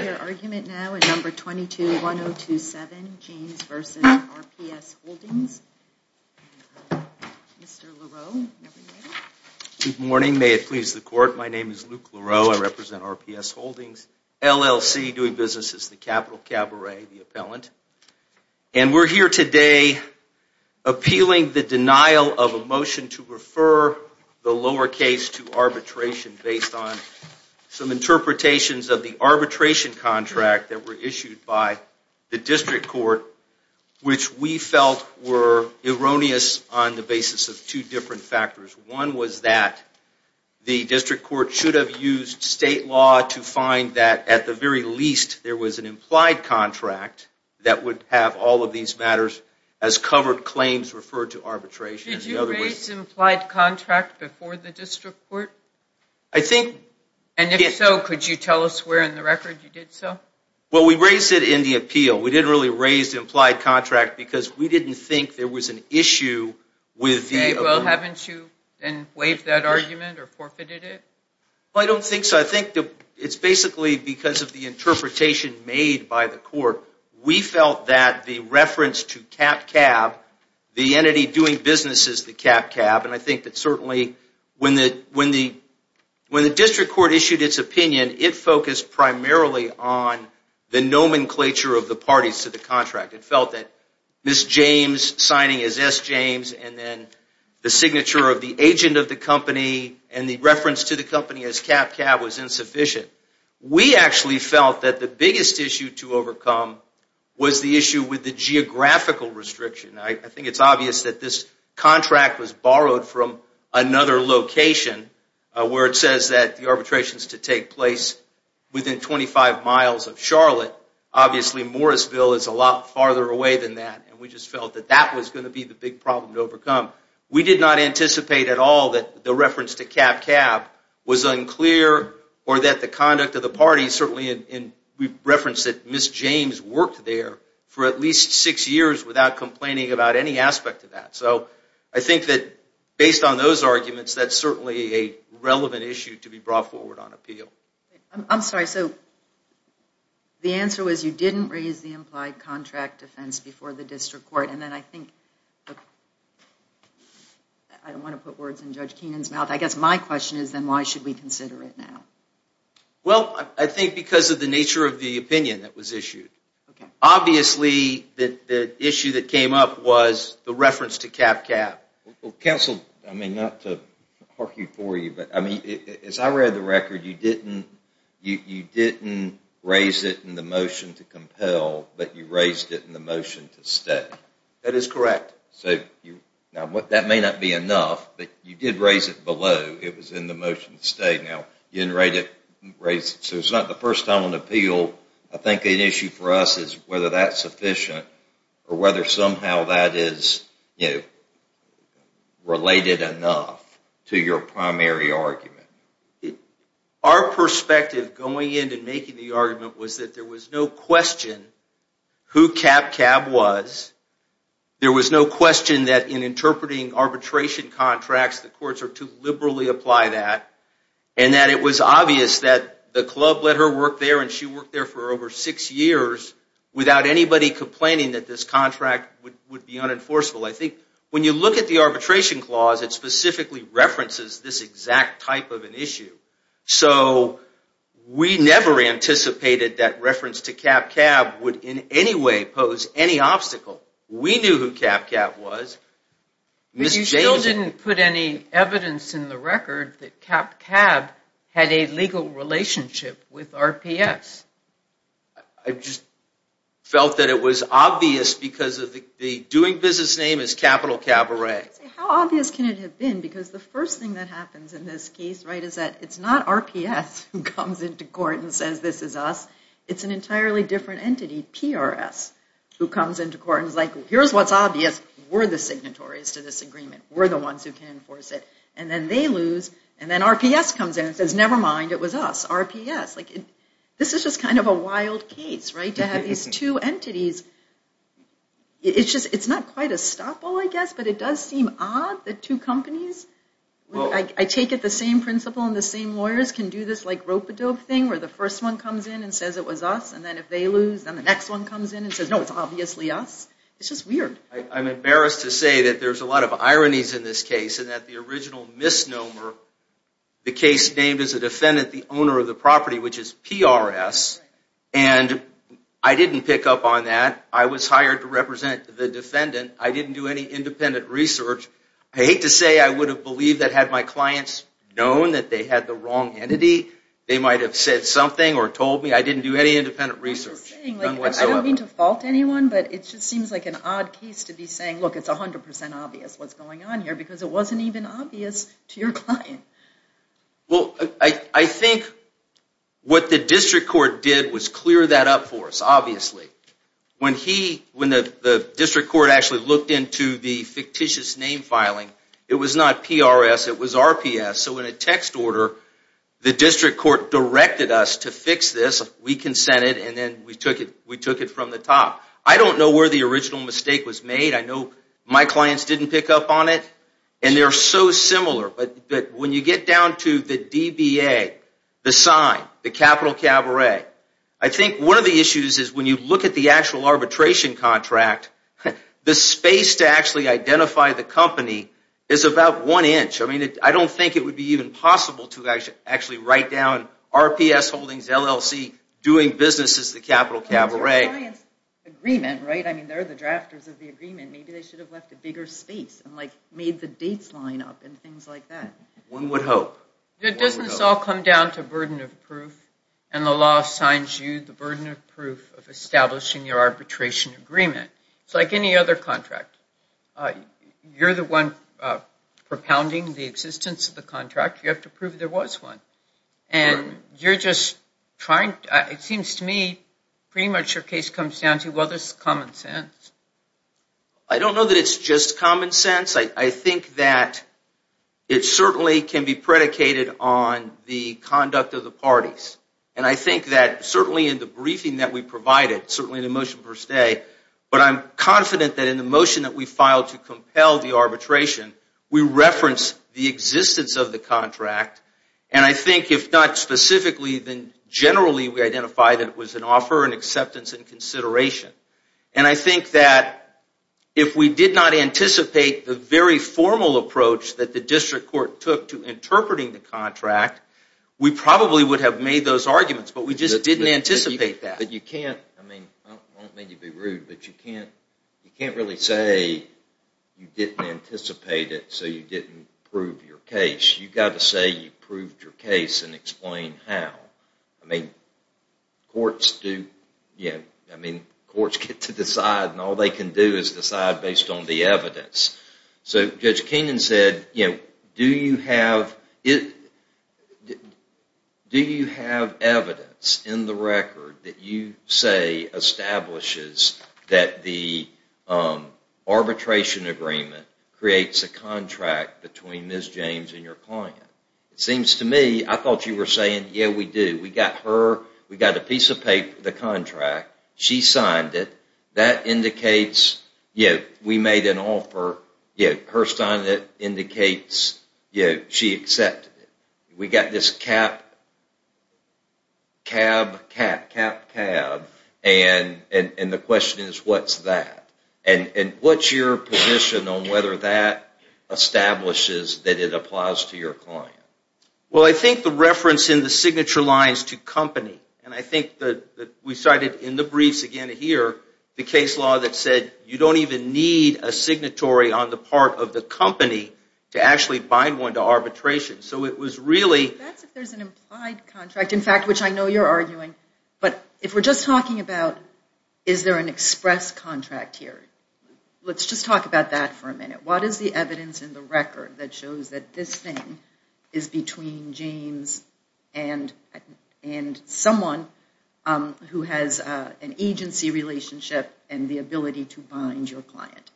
Good morning. May it please the court. My name is Luke Leroux. I represent RPS Holdings, LLC, doing business as the capital cabaret, the appellant. And we're here today appealing the denial of a motion to refer the lowercase to arbitration based on some interpretations of the arbitration contract that were issued by the district court, which we felt were erroneous on the basis of two different factors. One was that the district court should have used state law to find that at the very least there was an implied contract that would have all of these matters as covered claims referred to arbitration. Did you raise implied contract before the district court? I think... And if so, could you tell us where in the record you did so? Well, we raised it in the appeal. We didn't really raise implied contract because we didn't think there was an issue with the... Well, haven't you then waived that argument or forfeited it? Well, I don't think so. I think it's basically because of the interpretation made by the court. We felt that the reference to cap cab, the entity doing business as the cap cab, and I think that certainly when the district court issued its opinion, it focused primarily on the nomenclature of the parties to the contract. It felt that Ms. James signing as S. James and then the signature of the agent of the company and the reference to the company as cap cab was insufficient. We actually felt that the biggest issue to overcome was the issue with the geographical restriction. I think it's obvious that this contract was borrowed from another location where it says that the arbitration is to take place within 25 miles of Charlotte. Obviously, Morrisville is a lot farther away than that and we just felt that that was going to be the big problem to overcome. We did not anticipate at all that the reference to cap cab was unclear or that the conduct of the parties, certainly in reference that Ms. James worked there for at least six years without complaining about any aspect of that. So I think that based on those arguments, that's certainly a relevant issue to be brought forward on appeal. I'm sorry, so the answer was you didn't raise the implied contract defense before the district court and then I think, I don't want to put words in Judge Keenan's mouth, I guess my question is then why should we consider it now? Well, I think because of the nature of the opinion that was issued. Obviously, the issue that came up was the reference to cap cab. Counsel, I mean not to argue for you, but as I read the record, you didn't raise it in the motion to compel, but you raised it in the motion to stay. That is correct. Now, that may not be enough, but you did raise it below. It was in the motion to stay. Now, you didn't raise it, so it's not the first time on appeal. I think the issue for us is whether that's sufficient or whether somehow that is related enough to your primary argument. Our perspective going in and making the argument was that there was no question who cap cab was. There was no question that in interpreting arbitration contracts, the courts are to liberally apply that and that it was obvious that the club let her work there and she worked there for over six years without anybody complaining that this contract would be unenforceable. I think when you look at the arbitration clause, it specifically references this exact type of an issue. So, we never anticipated that reference to cap cab would in any way pose any obstacle. We knew who cap cab was. You still didn't put any evidence in the record that cap cab had a legal relationship with RPS. I just felt that it was obvious because the doing business name is capital cabaret. How obvious can it have been? Because the first thing that happens in this case is that it's not RPS who comes into court and says this is us. It's an entirely different entity, PRS, who comes into court and is like, here's what's obvious. We're the signatories to this agreement. We're the ones who can enforce it. And then they lose, and then RPS comes in and says, never mind, it was us, RPS. This is just kind of a wild case, right, to have these two entities. It's not quite a stop all, I guess, but it does seem odd that two companies, I take it the same principle and the same lawyers, can do this rope-a-dope thing where the first one comes in and says it was us, and then if they lose, then the next one comes in and says, no, it's obviously us. It's just weird. I'm embarrassed to say that there's a lot of ironies in this case and that the original misnomer, the case named as a defendant, the owner of the property, which is PRS, and I didn't pick up on that. I was hired to represent the defendant. I didn't do any independent research. I hate to say I would have believed that had my clients known that they had the wrong entity, they might have said something or told me. I didn't do any independent research. I don't mean to fault anyone, but it just seems like an odd case to be saying, look, it's 100% obvious what's going on here because it wasn't even obvious to your client. Well, I think what the district court did was clear that up for us, obviously. When the district court actually looked into the fictitious name filing, it was not PRS. It was RPS. So in a text order, the district court directed us to fix this. We consented, and then we took it from the top. I don't know where the original mistake was made. I know my clients didn't pick up on it, and they're so similar. But when you get down to the DBA, the sign, the capital cabaret, I think one of the issues is when you look at the actual arbitration contract, the space to actually identify the company is about one inch. I mean, I don't think it would be even possible to actually write down RPS Holdings, LLC, doing business as the capital cabaret. I mean, they're the drafters of the agreement. Maybe they should have left a bigger space and made the dates line up and things like that. One would hope. It doesn't all come down to burden of proof, and the law assigns you the burden of proof of establishing your arbitration agreement. It's like any other contract. You're the one propounding the existence of the contract. You have to prove there was one. And you're just trying to, it seems to me, pretty much your case comes down to, well, this is common sense. I don't know that it's just common sense. I think that it certainly can be predicated on the conduct of the parties. And I think that certainly in the briefing that we provided, certainly in the motion per se, but I'm confident that in the motion that we filed to compel the arbitration, we referenced the existence of the contract. And I think if not specifically, then generally we identified that it was an offer and acceptance and consideration. And I think that if we did not anticipate the very formal approach that the district court took to interpreting the contract, we probably would have made those arguments. But we just didn't anticipate that. But you can't, I mean, I won't mean to be rude, but you can't really say you didn't anticipate it so you didn't prove your case. You've got to say you proved your case and explain how. I mean, courts get to decide, and all they can do is decide based on the evidence. So Judge Keenan said, do you have evidence in the record that you say establishes that the arbitration agreement creates a contract between Ms. James and your client? It seems to me, I thought you were saying, yeah, we do. We got her, we got a piece of paper, the contract. She signed it. That indicates, yeah, we made an offer. Yeah, her signing it indicates, yeah, she accepted it. We got this cap, cab, cap, cap, cab, and the question is, what's that? And what's your position on whether that establishes that it applies to your client? Well, I think the reference in the signature lines to company, and I think that we cited in the briefs again here, the case law that said you don't even need a signatory on the part of the company to actually bind one to arbitration. So it was really... That's if there's an implied contract, in fact, which I know you're arguing. But if we're just talking about is there an express contract here, let's just talk about that for a minute. What is the evidence in the record that shows that this thing is between James and someone who has an agency relationship and the ability to bind your client?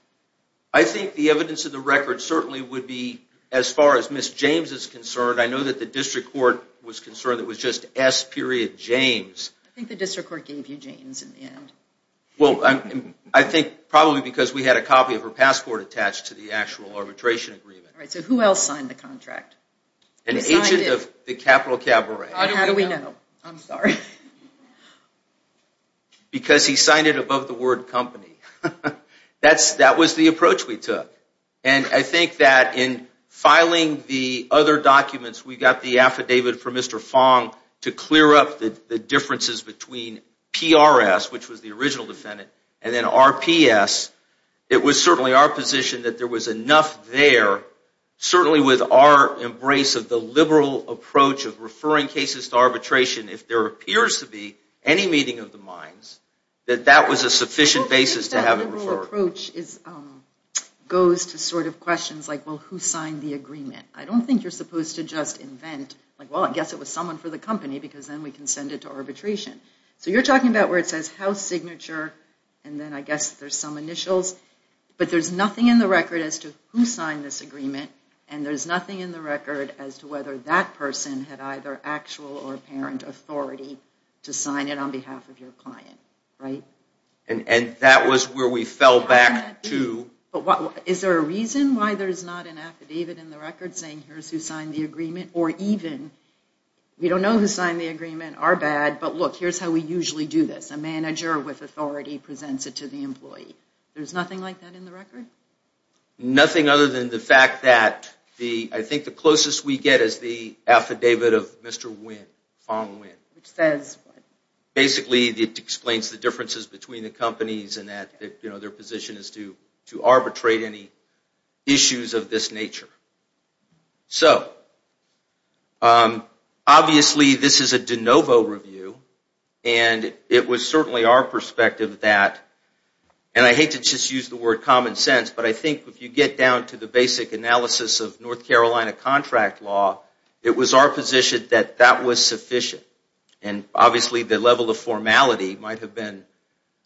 I think the evidence in the record certainly would be, as far as Ms. James is concerned, I know that the district court was concerned it was just S. James. I think the district court gave you James in the end. Well, I think probably because we had a copy of her passport attached to the actual arbitration agreement. All right, so who else signed the contract? An agent of the Capital Cabaret. How do we know? I'm sorry. That was the approach we took. And I think that in filing the other documents, we got the affidavit from Mr. Fong to clear up the differences between PRS, which was the original defendant, and then RPS. It was certainly our position that there was enough there, certainly with our embrace of the liberal approach of referring cases to arbitration if there appears to be any meeting of the minds, that that was a sufficient basis to have it referred. My approach goes to questions like, well, who signed the agreement? I don't think you're supposed to just invent, well, I guess it was someone for the company because then we can send it to arbitration. So you're talking about where it says house signature, and then I guess there's some initials. But there's nothing in the record as to who signed this agreement, and there's nothing in the record as to whether that person had either actual or apparent authority to sign it on behalf of your client, right? And that was where we fell back to. But is there a reason why there's not an affidavit in the record saying, here's who signed the agreement? Or even, we don't know who signed the agreement, our bad, but look, here's how we usually do this. A manager with authority presents it to the employee. There's nothing like that in the record? Nothing other than the fact that I think the closest we get is the affidavit of Mr. Fong Nguyen. Which says what? Basically, it explains the differences between the companies and that their position is to arbitrate any issues of this nature. So, obviously, this is a de novo review, and it was certainly our perspective that, and I hate to just use the word common sense, but I think if you get down to the basic analysis of North Carolina contract law, it was our position that that was sufficient. And, obviously, the level of formality might have been,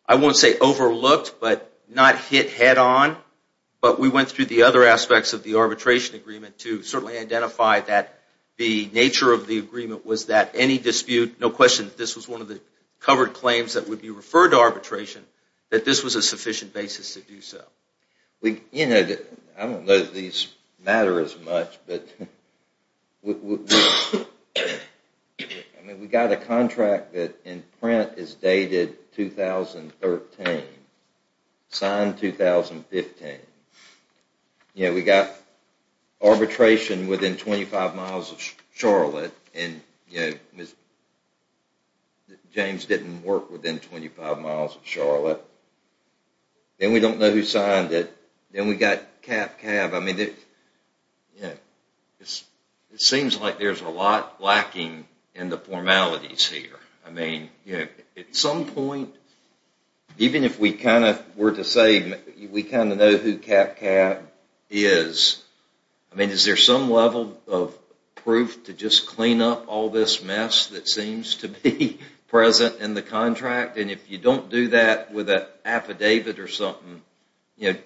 I won't say overlooked, but not hit head on. But we went through the other aspects of the arbitration agreement to certainly identify that the nature of the agreement was that any dispute, no question that this was one of the covered claims that would be referred to arbitration, that this was a sufficient basis to do so. I don't know that these matter as much, but we got a contract that in print is dated 2013, signed 2015. We got arbitration within 25 miles of Charlotte, and James didn't work within 25 miles of Charlotte. Then we don't know who signed it. Then we got CapCab. I mean, it seems like there's a lot lacking in the formalities here. I mean, at some point, even if we kind of were to say we kind of know who CapCab is, I mean, is there some level of proof to just clean up all this mess that seems to be present in the contract? And if you don't do that with an affidavit or something, at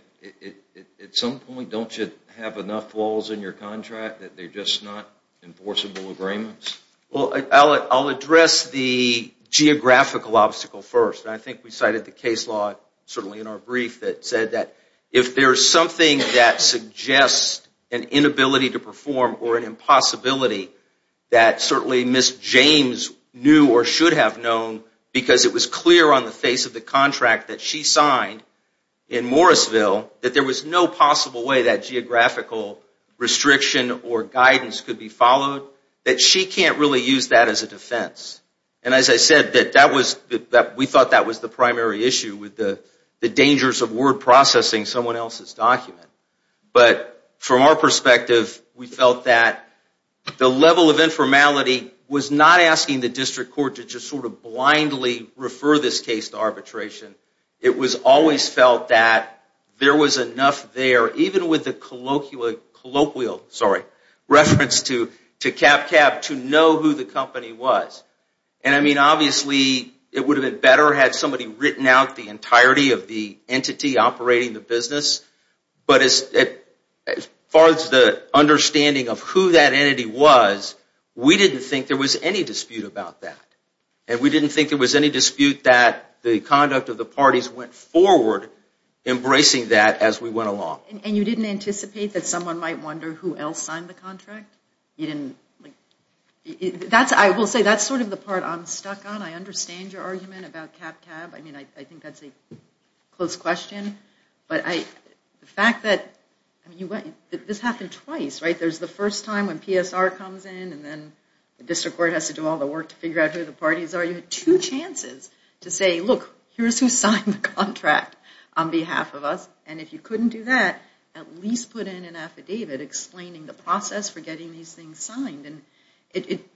some point don't you have enough flaws in your contract that they're just not enforceable agreements? Well, I'll address the geographical obstacle first. I think we cited the case law certainly in our brief that said that if there's something that suggests an inability to perform or an impossibility that certainly Ms. James knew or should have known because it was clear on the face of the contract that she signed in Morrisville that there was no possible way that geographical restriction or guidance could be followed, that she can't really use that as a defense. And as I said, we thought that was the primary issue with the dangers of word processing someone else's document. But from our perspective, we felt that the level of informality was not asking the district court to just sort of blindly refer this case to arbitration. It was always felt that there was enough there, even with the colloquial, sorry, reference to CapCab to know who the company was. And I mean, obviously, it would have been better had somebody written out the entirety of the entity operating the business. But as far as the understanding of who that entity was, we didn't think there was any dispute about that. And we didn't think there was any dispute that the conduct of the parties went forward embracing that as we went along. And you didn't anticipate that someone might wonder who else signed the contract? I will say that's sort of the part I'm stuck on. I understand your argument about CapCab. I mean, I think that's a close question. But the fact that this happened twice, right? There's the first time when PSR comes in, and then the district court has to do all the work to figure out who the parties are. You had two chances to say, look, here's who signed the contract on behalf of us. And if you couldn't do that, at least put in an affidavit explaining the process for getting these things signed.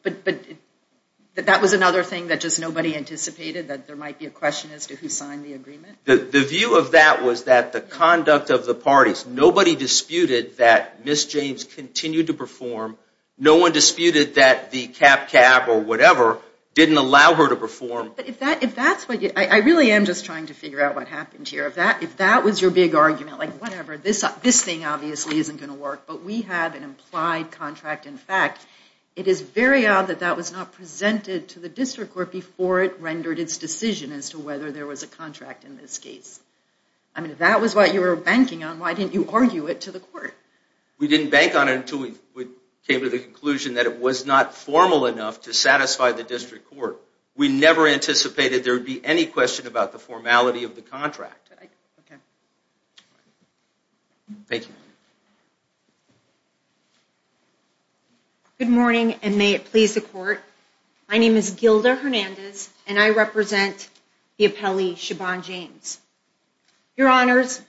But that was another thing that just nobody anticipated, that there might be a question as to who signed the agreement? The view of that was that the conduct of the parties, nobody disputed that Ms. James continued to perform. No one disputed that the CapCab or whatever didn't allow her to perform. But if that's what you... I really am just trying to figure out what happened here. If that was your big argument, like, whatever, this thing obviously isn't going to work, but we have an implied contract. In fact, it is very odd that that was not presented to the district court before it rendered its decision as to whether there was a contract in this case. I mean, if that was what you were banking on, why didn't you argue it to the court? We didn't bank on it until we came to the conclusion that it was not formal enough to satisfy the district court. We never anticipated there would be any question about the formality of the contract. Thank you. Good morning, and may it please the court. My name is Gilda Hernandez, and I represent the appellee Siobhan James. Your Honors,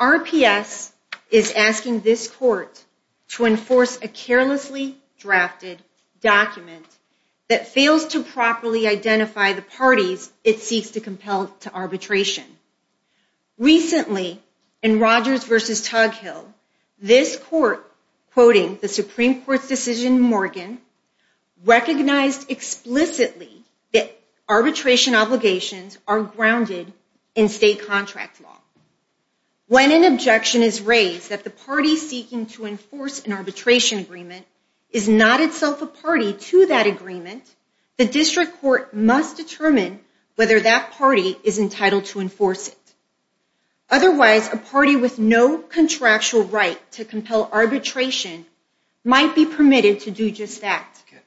RPS is asking this court to enforce a carelessly drafted document that fails to properly identify the parties it seeks to compel to arbitration. Recently, in Rogers v. Tughill, this court, quoting the Supreme Court's decision in Morgan, recognized explicitly that arbitration obligations are grounded in state contract law. When an objection is raised that the party seeking to enforce an arbitration agreement is not itself a party to that agreement, the district court must determine whether that party is entitled to enforce it. Otherwise, a party with no contractual right to compel arbitration might be permitted to do just that.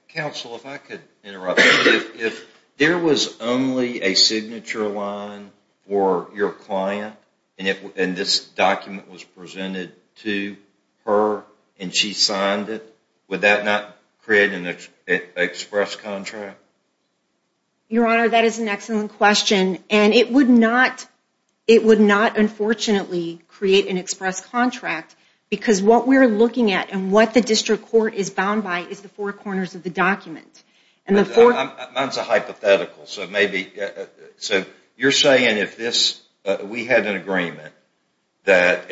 Counsel, if I could interrupt. If there was only a signature line for your client, and this document was presented to her, and she signed it, would that not create an express contract? Your Honor, that is an excellent question, and it would not unfortunately create an express contract because what we're looking at and what the district court is bound by is the four corners of the document. Mine's a hypothetical. So you're saying if we had an agreement that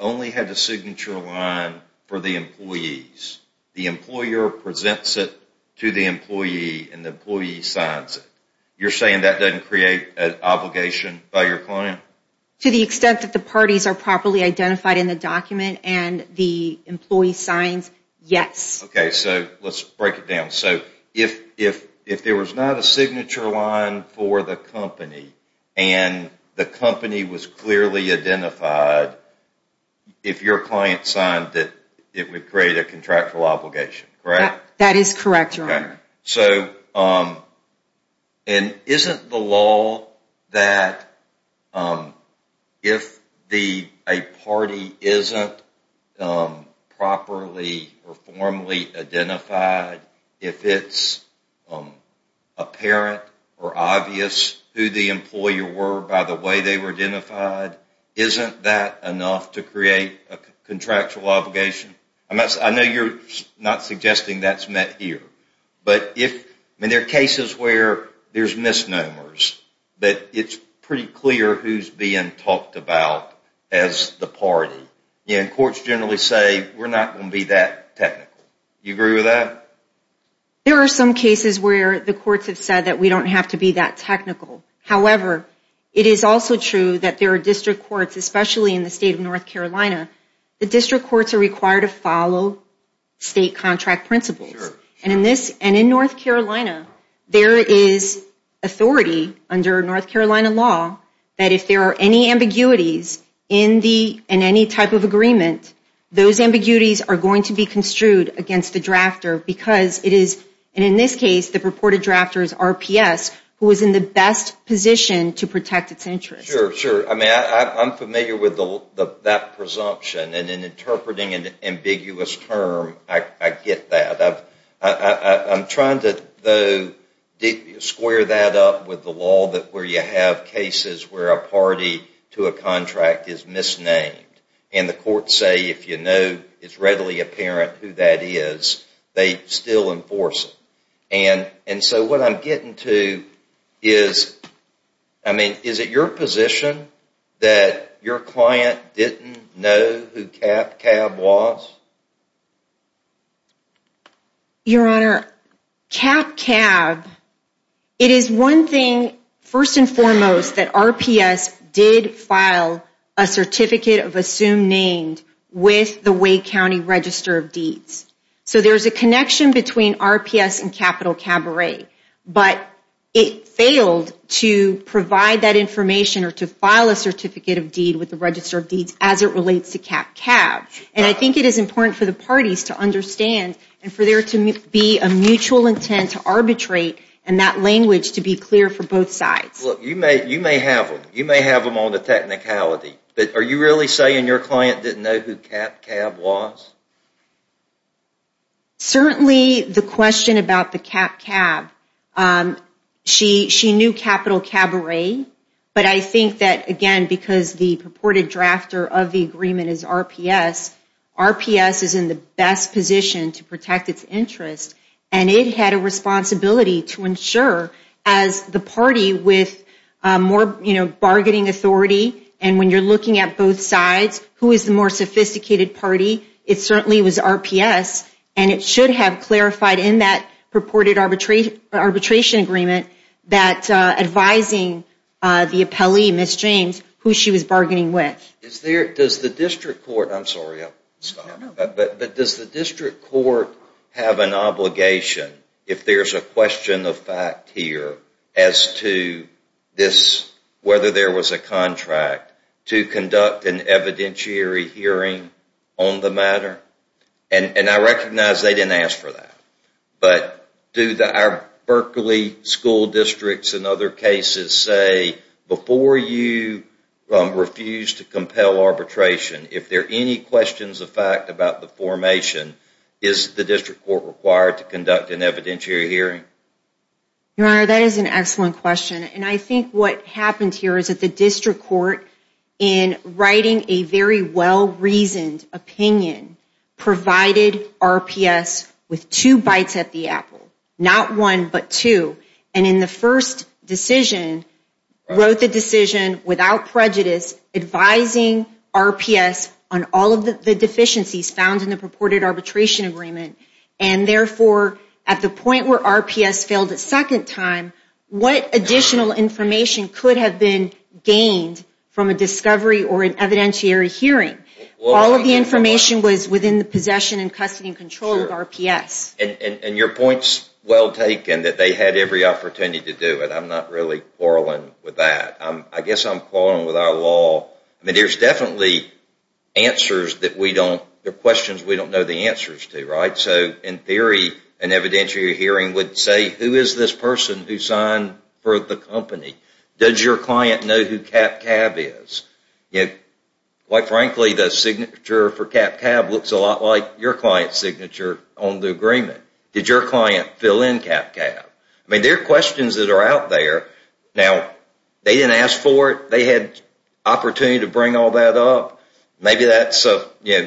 only had a signature line for the employees, the employer presents it to the employee and the employee signs it, you're saying that doesn't create an obligation by your client? To the extent that the parties are properly identified in the document and the employee signs, yes. Okay, so let's break it down. So if there was not a signature line for the company and the company was clearly identified, if your client signed it, it would create a contractual obligation, correct? That is correct, Your Honor. So isn't the law that if a party isn't properly or formally identified, if it's apparent or obvious who the employer were by the way they were identified, isn't that enough to create a contractual obligation? I know you're not suggesting that's met here. But there are cases where there's misnomers but it's pretty clear who's being talked about as the party. And courts generally say we're not going to be that technical. Do you agree with that? There are some cases where the courts have said that we don't have to be that technical. However, it is also true that there are district courts, especially in the state of North Carolina, the district courts are required to follow state contract principles. And in North Carolina, there is authority under North Carolina law that if there are any ambiguities in any type of agreement, those ambiguities are going to be construed against the drafter because it is, and in this case, the purported drafter is RPS, who is in the best position to protect its interest. I'm familiar with that presumption. And in interpreting an ambiguous term, I get that. I'm trying to square that up with the law where you have cases where a party to a contract is misnamed and the courts say if you know it's readily apparent who that is, they still enforce it. And so what I'm getting to is, I mean, is it your position that your client didn't know who CapCab was? Your Honor, CapCab, it is one thing, first and foremost, that RPS did file a certificate of assumed name with the Wake County Register of Deeds. So there's a connection between RPS and Capital Cabaret, but it failed to provide that information or to file a certificate of deed with the Register of Deeds as it relates to CapCab. And I think it is important for the parties to understand and for there to be a mutual intent to arbitrate and that language to be clear for both sides. You may have them on the technicality, but are you really saying your client didn't know who CapCab was? Certainly the question about the CapCab, she knew Capital Cabaret, but I think that, again, because the purported drafter of the agreement is RPS, RPS is in the best position to protect its interest and it had a responsibility to ensure, as the party with more bargaining authority and when you're looking at both sides, who is the more sophisticated party, it certainly was RPS. And it should have clarified in that purported arbitration agreement that advising the appellee, Ms. James, who she was bargaining with. Is there, does the district court, I'm sorry, I'll stop. But does the district court have an obligation, if there's a question of fact here, as to this, whether there was a contract, to conduct an evidentiary hearing on the matter? And I recognize they didn't ask for that, but do our Berkeley school districts and other cases say, before you refuse to compel arbitration, if there are any questions of fact about the formation, is the district court required to conduct an evidentiary hearing? Your Honor, that is an excellent question. And I think what happened here is that the district court, in writing a very well-reasoned opinion, provided RPS with two bites at the apple. Not one, but two. And in the first decision, wrote the decision without prejudice, advising RPS on all of the deficiencies found in the purported arbitration agreement. And therefore, at the point where RPS failed a second time, what additional information could have been gained from a discovery or an evidentiary hearing? All of the information was within the possession and custody and control of RPS. And your point's well taken, that they had every opportunity to do it. I'm not really quarreling with that. I guess I'm quarreling with our law. I mean, there's definitely answers that we don't, there are questions we don't know the answers to, right? So in theory, an evidentiary hearing would say, who is this person who signed for the company? Does your client know who CapCab is? Quite frankly, the signature for CapCab looks a lot like your client's signature on the agreement. Did your client fill in CapCab? I mean, there are questions that are out there. Now, they didn't ask for it. They had opportunity to bring all that up. Maybe that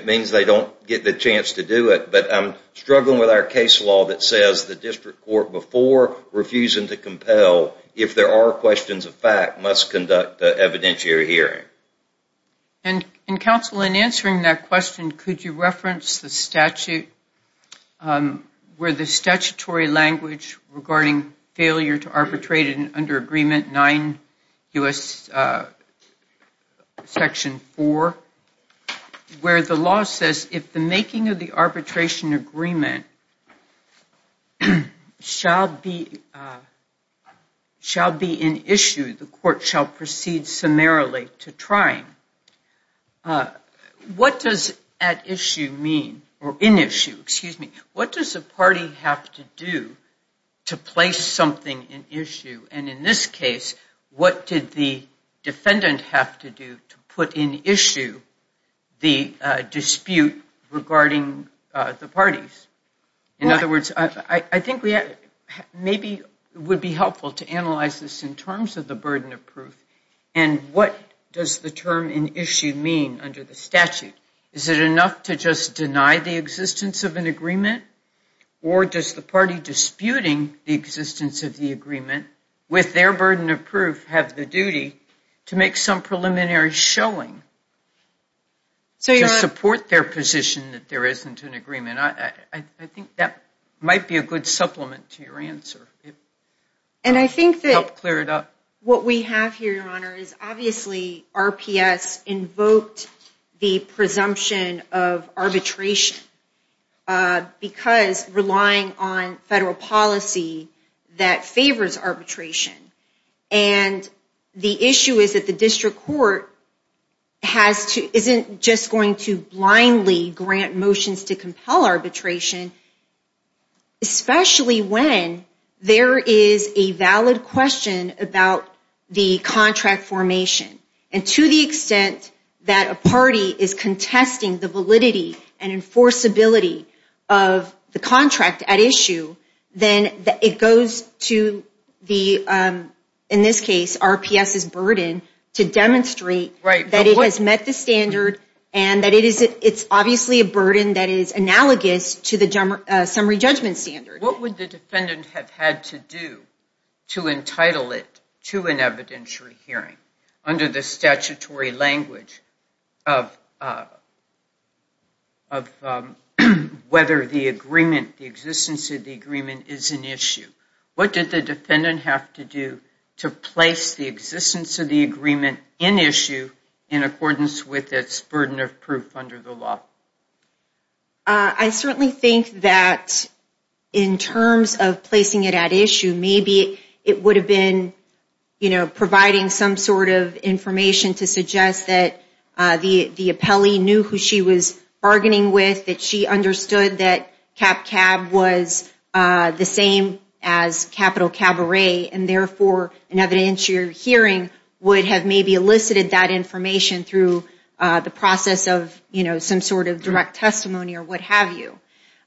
means they don't get the chance to do it. But I'm struggling with our case law that says the district court before refusing to compel, if there are questions of fact, must conduct an evidentiary hearing. And counsel, in answering that question, could you reference the statute, where the statutory language regarding failure to arbitrate under agreement 9 U.S. section 4, where the law says if the making of the arbitration agreement shall be in issue, the court shall proceed summarily to trying. What does at issue mean? Or in issue, excuse me. What does a party have to do to place something in issue? And in this case, what did the defendant have to do to put in issue the dispute regarding the parties? In other words, I think maybe it would be helpful to analyze this in terms of the burden of proof and what does the term in issue mean under the statute. Is it enough to just deny the existence of an agreement? Or does the party disputing the existence of the agreement with their burden of proof have the duty to make some preliminary showing to support their position that there isn't an agreement? I think that might be a good supplement to your answer. And I think that what we have here, Your Honor, is obviously RPS invoked the presumption of arbitration because relying on federal policy that favors arbitration. And the issue is that the district court isn't just going to blindly grant motions to compel arbitration, especially when there is a valid question about the contract formation. And to the extent that a party is contesting the validity and enforceability of the contract at issue, then it goes to the, in this case, RPS's burden to demonstrate that it has met the standard and that it's obviously a burden that is analogous to the summary judgment standard. What would the defendant have had to do to entitle it to an evidentiary hearing under the statutory language of whether the agreement, the existence of the agreement is an issue? What did the defendant have to do to place the existence of the agreement in issue in accordance with its burden of proof under the law? I certainly think that in terms of placing it at issue, maybe it would have been, you know, providing some sort of information to suggest that the appellee knew who she was bargaining with, that she understood that CapCab was the same as Capital Cabaret, and therefore an evidentiary hearing would have maybe elicited that information through the process of, you know, some sort of direct testimony or what have you.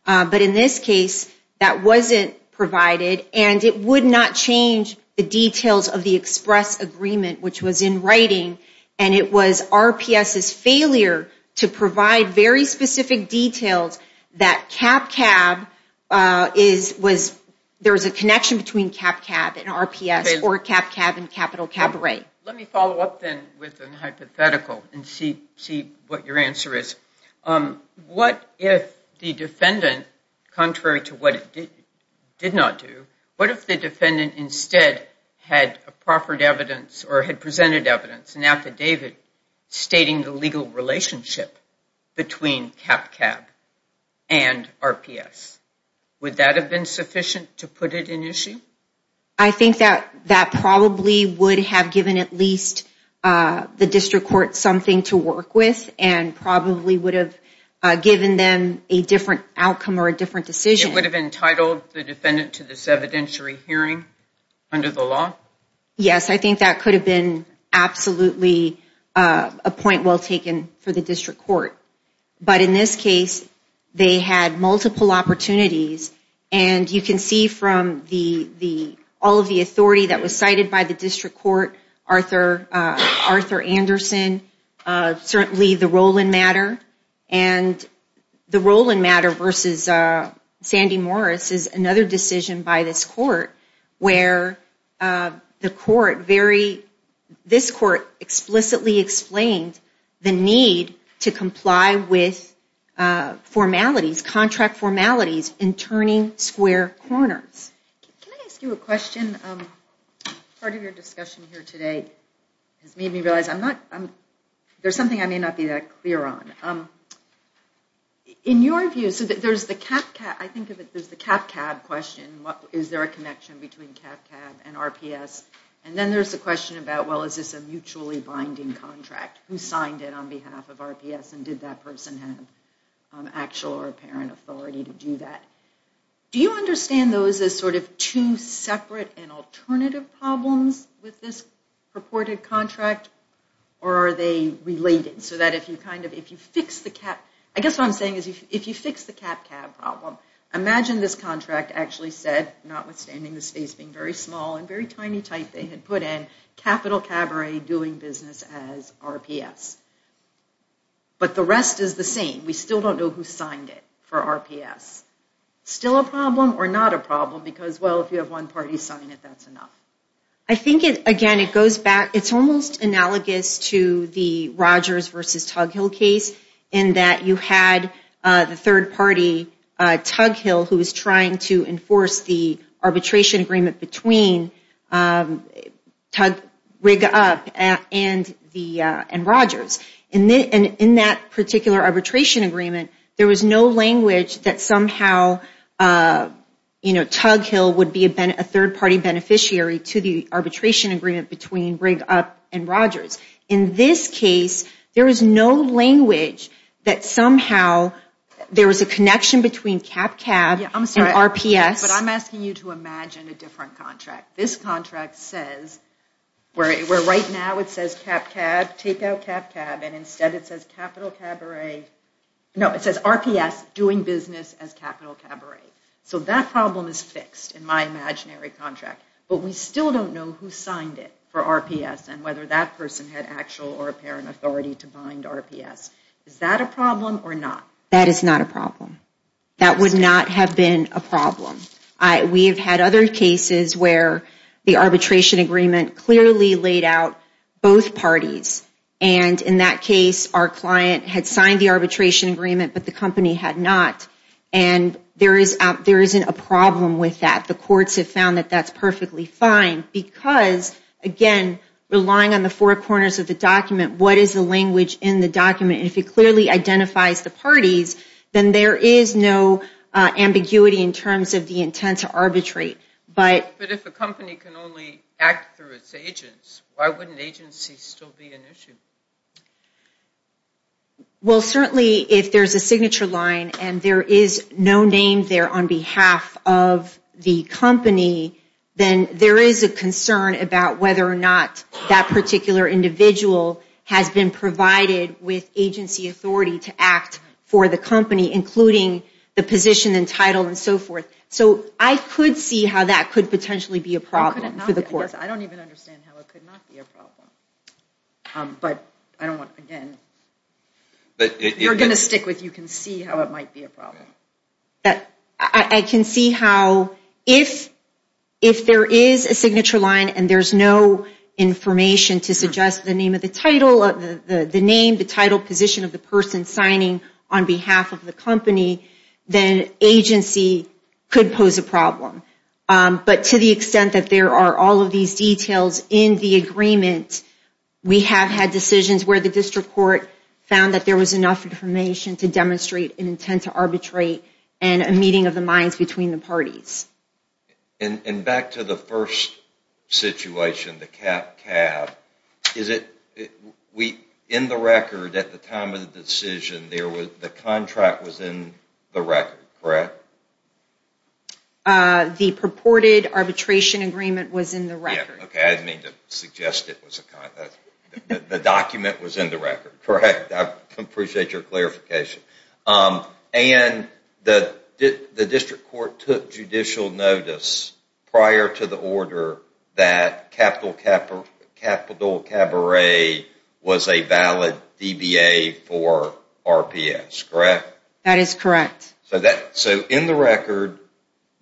But in this case, that wasn't provided and it would not change the details of the express agreement which was in writing and it was RPS's failure to provide very specific details that CapCab is, was, there was a connection between CapCab and RPS or CapCab and Capital Cabaret. Let me follow up then with a hypothetical and see what your answer is. What if the defendant, contrary to what it did not do, what if the defendant instead had a proffered evidence or had presented evidence, an affidavit, stating the legal relationship between CapCab and RPS? Would that have been sufficient to put it in issue? I think that that probably would have given at least the district court something to work with and probably would have given them a different outcome or a different decision. It would have entitled the defendant to this evidentiary hearing under the law? Yes, I think that could have been absolutely a point well taken for the district court. But in this case, they had multiple opportunities and you can see from all of the authority that was cited by the district court, Arthur Anderson, certainly the role in matter and the role in matter versus Sandy Morris is another decision by this court where the court very, this court explicitly explained the need to comply with formalities, contract formalities in turning square corners. Can I ask you a question? Part of your discussion here today has made me realize I'm not, there's something I may not be that clear on. In your view, so there's the CapCab, I think of it as the CapCab question, is there a connection between CapCab and RPS? And then there's the question about, well is this a mutually binding contract? Who signed it on behalf of RPS and did that person have actual or apparent authority to do that? Do you understand those as sort of two separate and alternative problems with this purported contract or are they related so that if you kind of, if you fix the Cap, I guess what I'm saying is if you fix the CapCab problem, imagine this contract actually said, notwithstanding the space being very small and very tiny type they had put in, Capital Cabaret doing business as RPS. But the rest is the same. We still don't know who signed it for RPS. Still a problem or not a problem? Because, well, if you have one party sign it, that's enough. I think it, again, it goes back, it's almost analogous to the Rogers versus Tughill case in that you had the third party, Tughill, who was trying to enforce the arbitration agreement between Tughill and Rogers. And in that particular arbitration agreement, there was no language that somehow, you know, Tughill would be a third party beneficiary to the arbitration agreement between Tughill and Rogers. In this case, there was no language that somehow there was a connection between CapCab and RPS. But I'm asking you to imagine a different contract. This contract says, where right now it says CapCab, take out CapCab, and instead it says Capital Cabaret. No, it says RPS doing business as Capital Cabaret. So that problem is fixed in my imaginary contract. But we still don't know who signed it for RPS and whether that person had actual or apparent authority to bind RPS. Is that a problem or not? That is not a problem. That would not have been a problem. We have had other cases where the arbitration agreement clearly laid out both parties. And in that case, our client had signed the arbitration agreement, but the company had not. And there isn't a problem with that. The courts have found that that's perfectly fine. Because, again, relying on the four corners of the document, what is the language in the document? And if it clearly identifies the parties, then there is no ambiguity in terms of the intent to arbitrate. But if a company can only act through its agents, why wouldn't agency still be an issue? Well, certainly, if there's a signature line and there is no name there on behalf of the company, then there is a concern about whether or not that particular individual has been provided with agency authority to act for the company, including the position and title and so forth. So I could see how that could potentially be a problem for the courts. I don't even understand how it could not be a problem. But I don't want, again, you're going to stick with, you can see how it might be a problem. I can see how if there is a signature line and there's no information to suggest the name of the title, the name, the title, position of the person signing on behalf of the company, then agency could pose a problem. But to the extent that there are all of these details in the agreement, we have had decisions where the district court found that there was enough information to demonstrate an intent to arbitrate and a meeting of the minds between the parties. And back to the first situation, the CAP-CAB, in the record at the time of the decision, the contract was in the record, correct? The purported arbitration agreement was in the record. Okay, I didn't mean to suggest it was a contract. The document was in the record, correct? I appreciate your clarification. And the district court took judicial notice prior to the order that Capital Cabaret was a valid DBA for RPS, correct? That is correct. So in the record,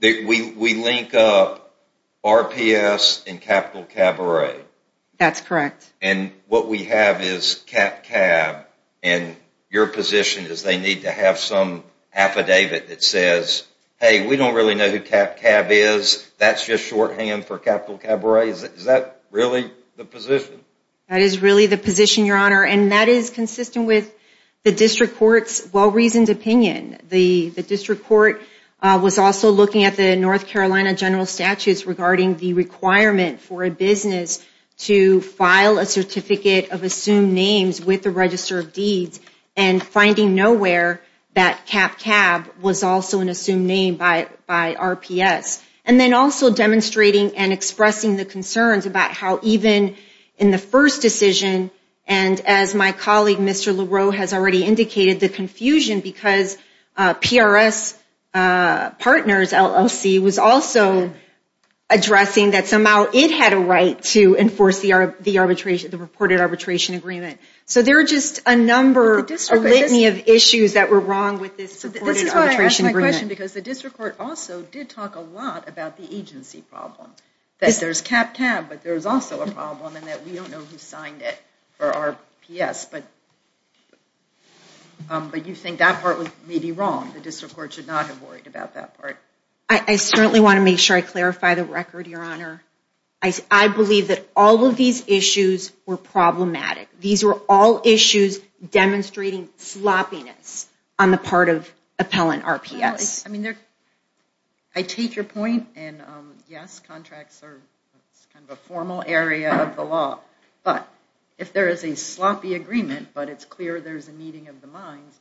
we link up RPS and Capital Cabaret. That's correct. And what we have is CAP-CAB, and your position is they need to have some affidavit that says, hey, we don't really know who CAP-CAB is. That's just shorthand for Capital Cabaret. Is that really the position? That is really the position, Your Honor, and that is consistent with the district court's well-reasoned opinion. The district court was also looking at the North Carolina general statutes regarding the requirement for a business to file a certificate of assumed names with the Register of Deeds and finding nowhere that CAP-CAB was also an assumed name by RPS. And then also demonstrating and expressing the concerns about how even in the first decision, and as my colleague Mr. Leroux has already indicated, the confusion because PRS partners, LLC, was also addressing that somehow it had a right to enforce the reported arbitration agreement. So there are just a number, a litany of issues that were wrong with this supported arbitration agreement. I have a question because the district court also did talk a lot about the agency problem, that there's CAP-CAB but there's also a problem and that we don't know who signed it for RPS. But you think that part was maybe wrong. The district court should not have worried about that part. I certainly want to make sure I clarify the record, Your Honor. I believe that all of these issues were problematic. These were all issues demonstrating sloppiness on the part of appellant RPS. I take your point and yes, contracts are kind of a formal area of the law. But if there is a sloppy agreement but it's clear there's a meeting of the minds,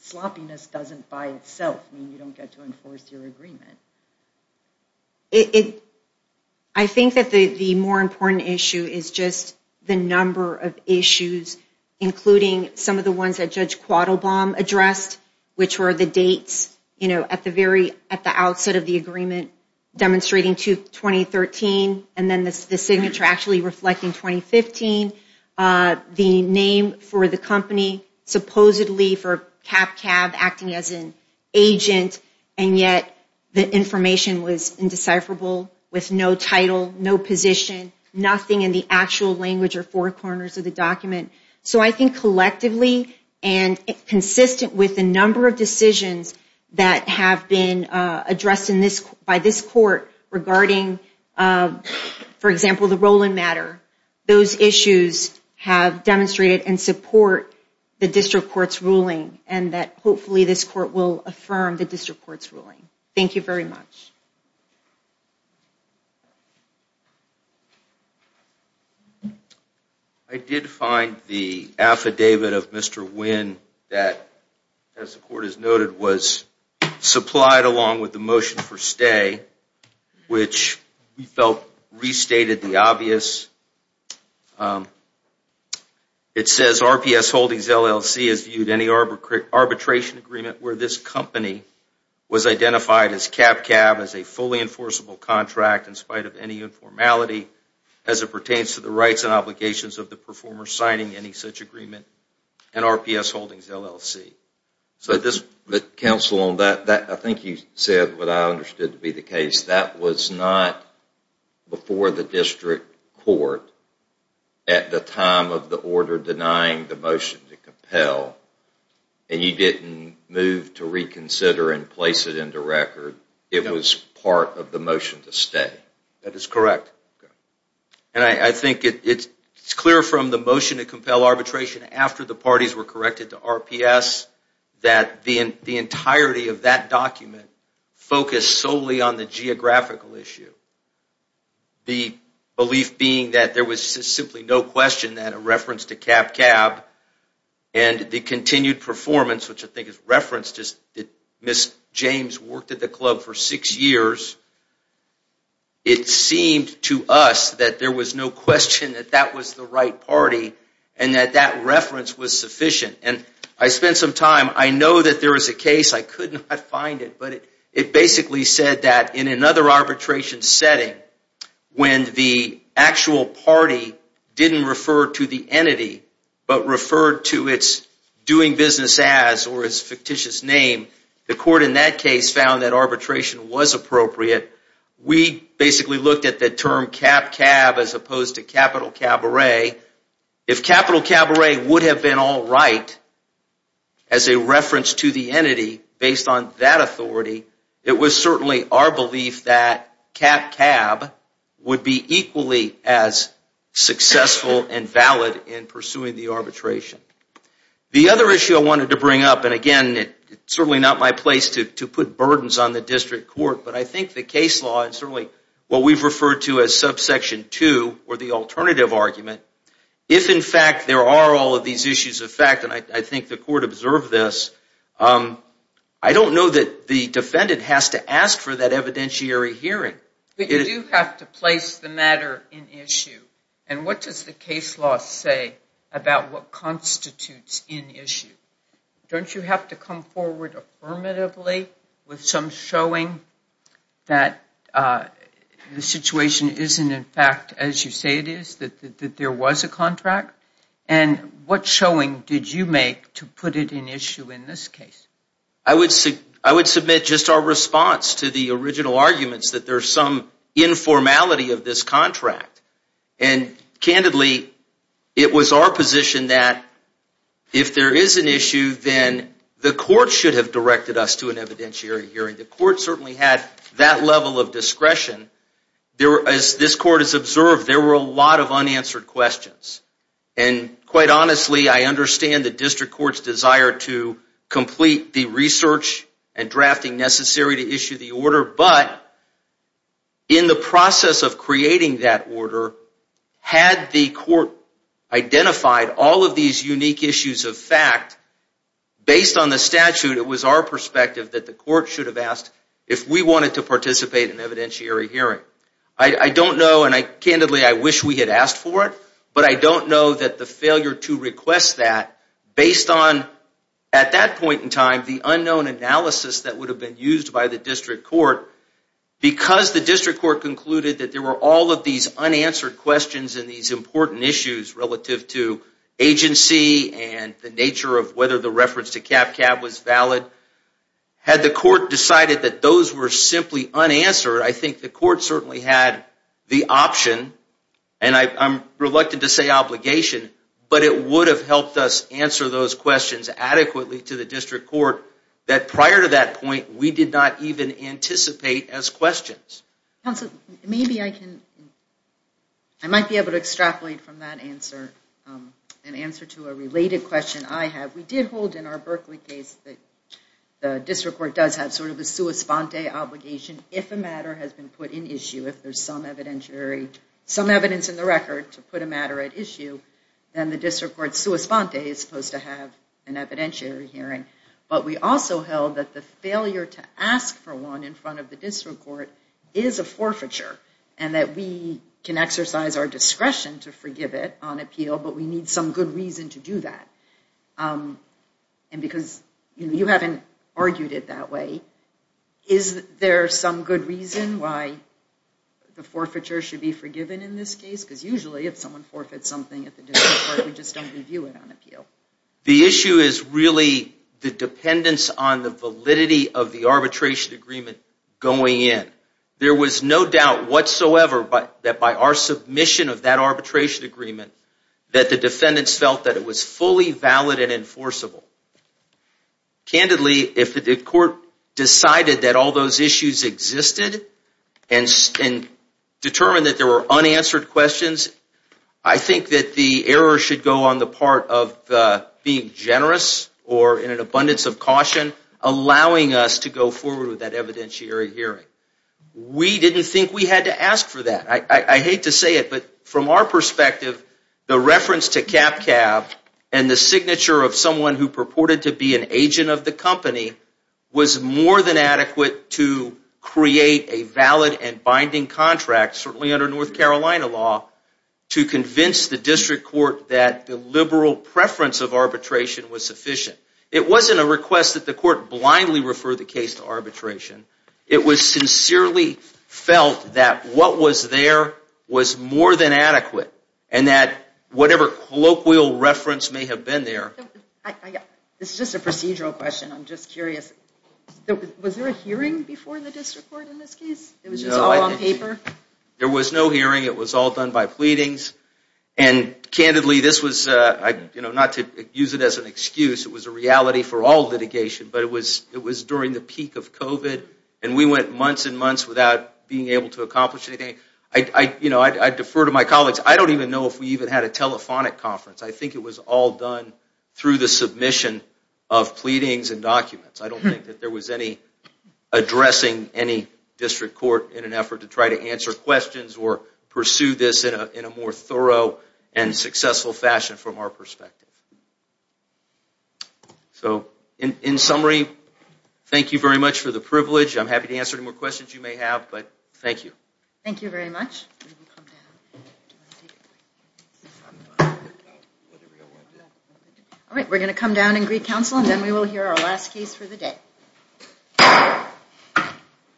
sloppiness doesn't by itself mean you don't get to enforce your agreement. I think that the more important issue is just the number of issues, including some of the ones that Judge Quattlebaum addressed, which were the dates at the outset of the agreement demonstrating 2013 and then the signature actually reflecting 2015, the name for the company supposedly for CAP-CAB acting as an agent and yet the information was indecipherable with no title, no position, nothing in the actual language or four corners of the document. So I think collectively and consistent with the number of decisions that have been addressed by this court regarding, for example, the Roland matter, those issues have demonstrated and support the district court's ruling and that hopefully this court will affirm the district court's ruling. Thank you very much. I did find the affidavit of Mr. Wynn that, as the court has noted, was supplied along with the motion for stay, which we felt restated the obvious. It says RPS Holdings LLC has viewed any arbitration agreement where this company was identified as CAP-CAB as a fully enforceable contract in spite of any informality as it pertains to the rights and obligations of the performer signing any such agreement and RPS Holdings LLC. Counsel, I think you said what I understood to be the case. That was not before the district court at the time of the order denying the motion to compel and you didn't move to reconsider and place it into record. It was part of the motion to stay. That is correct. And I think it's clear from the motion to compel arbitration after the parties were corrected to RPS that the entirety of that document focused solely on the geographical issue. The belief being that there was simply no question that a reference to CAP-CAB and the continued performance, which I think is referenced as Ms. James worked at the club for six years, it seemed to us that there was no question that that was the right party and that that reference was sufficient. And I spent some time, I know that there is a case, I could not find it, but it basically said that in another arbitration setting when the actual party didn't refer to the entity but referred to its doing business as or its fictitious name, the court in that case found that arbitration was appropriate. We basically looked at the term CAP-CAB as opposed to Capital Cabaret. If Capital Cabaret would have been all right as a reference to the entity based on that authority, it was certainly our belief that CAP-CAB would be equally as successful and valid in pursuing the arbitration. The other issue I wanted to bring up, and again, it's certainly not my place to put burdens on the district court, but I think the case law and certainly what we've referred to as subsection 2 or the alternative argument, if in fact there are all of these issues of fact, and I think the court observed this, I don't know that the defendant has to ask for that evidentiary hearing. But you do have to place the matter in issue. And what does the case law say about what constitutes in issue? Don't you have to come forward affirmatively with some showing that the situation isn't in fact as you say it is, that there was a contract? And what showing did you make to put it in issue in this case? I would submit just our response to the original arguments that there's some informality of this contract. And candidly, it was our position that if there is an issue, then the court should have directed us to an evidentiary hearing. The court certainly had that level of discretion. As this court has observed, there were a lot of unanswered questions. And quite honestly, I understand the district court's desire to complete the research and drafting necessary to issue the order, but in the process of creating that order, had the court identified all of these unique issues of fact, based on the statute, it was our perspective that the court should have asked if we wanted to participate in an evidentiary hearing. I don't know, and candidly, I wish we had asked for it, but I don't know that the failure to request that, based on, at that point in time, the unknown analysis that would have been used by the district court, because the district court concluded that there were all of these unanswered questions and these important issues relative to agency and the nature of whether the reference to CapCab was valid, had the court decided that those were simply unanswered, I think the court certainly had the option, and I'm reluctant to say obligation, but it would have helped us answer those questions adequately to the district court, that prior to that point, we did not even anticipate as questions. Counsel, maybe I can, I might be able to extrapolate from that answer, an answer to a related question I have. We did hold in our Berkeley case that the district court does have sort of a sua sponte obligation, if a matter has been put in issue, if there's some evidentiary, some evidence in the record to put a matter at issue, then the district court sua sponte is supposed to have an evidentiary hearing, but we also held that the failure to ask for one in front of the district court is a forfeiture, and that we can exercise our discretion to forgive it on appeal, but we need some good reason to do that, and because you haven't argued it that way, is there some good reason why the forfeiture should be forgiven in this case? Because usually if someone forfeits something at the district court, we just don't review it on appeal. The issue is really the dependence on the validity of the arbitration agreement going in. There was no doubt whatsoever that by our submission of that arbitration agreement, that the defendants felt that it was fully valid and enforceable. Candidly, if the court decided that all those issues existed and determined that there were unanswered questions, I think that the error should go on the part of being generous or in an abundance of caution, allowing us to go forward with that evidentiary hearing. We didn't think we had to ask for that. I hate to say it, but from our perspective, the reference to CapCab and the signature of someone who purported to be an agent of the company was more than adequate to create a valid and binding contract, certainly under North Carolina law, to convince the district court that the liberal preference of arbitration was sufficient. It wasn't a request that the court blindly refer the case to arbitration. It was sincerely felt that what was there was more than adequate and that whatever colloquial reference may have been there. This is just a procedural question. I'm just curious. Was there a hearing before the district court in this case? It was just all on paper? There was no hearing. It was all done by pleadings. And candidly, this was, not to use it as an excuse, it was a reality for all litigation, but it was during the peak of COVID and we went months and months without being able to accomplish anything. I defer to my colleagues. I don't even know if we even had a telephonic conference. I think it was all done through the submission of pleadings and documents. I don't think that there was any addressing any district court in an effort to try to answer questions or pursue this in a more thorough and successful fashion from our perspective. In summary, thank you very much for the privilege. I'm happy to answer any more questions you may have. Thank you. Thank you very much. All right, we're going to come down and greet counsel and then we will hear our last case for the day.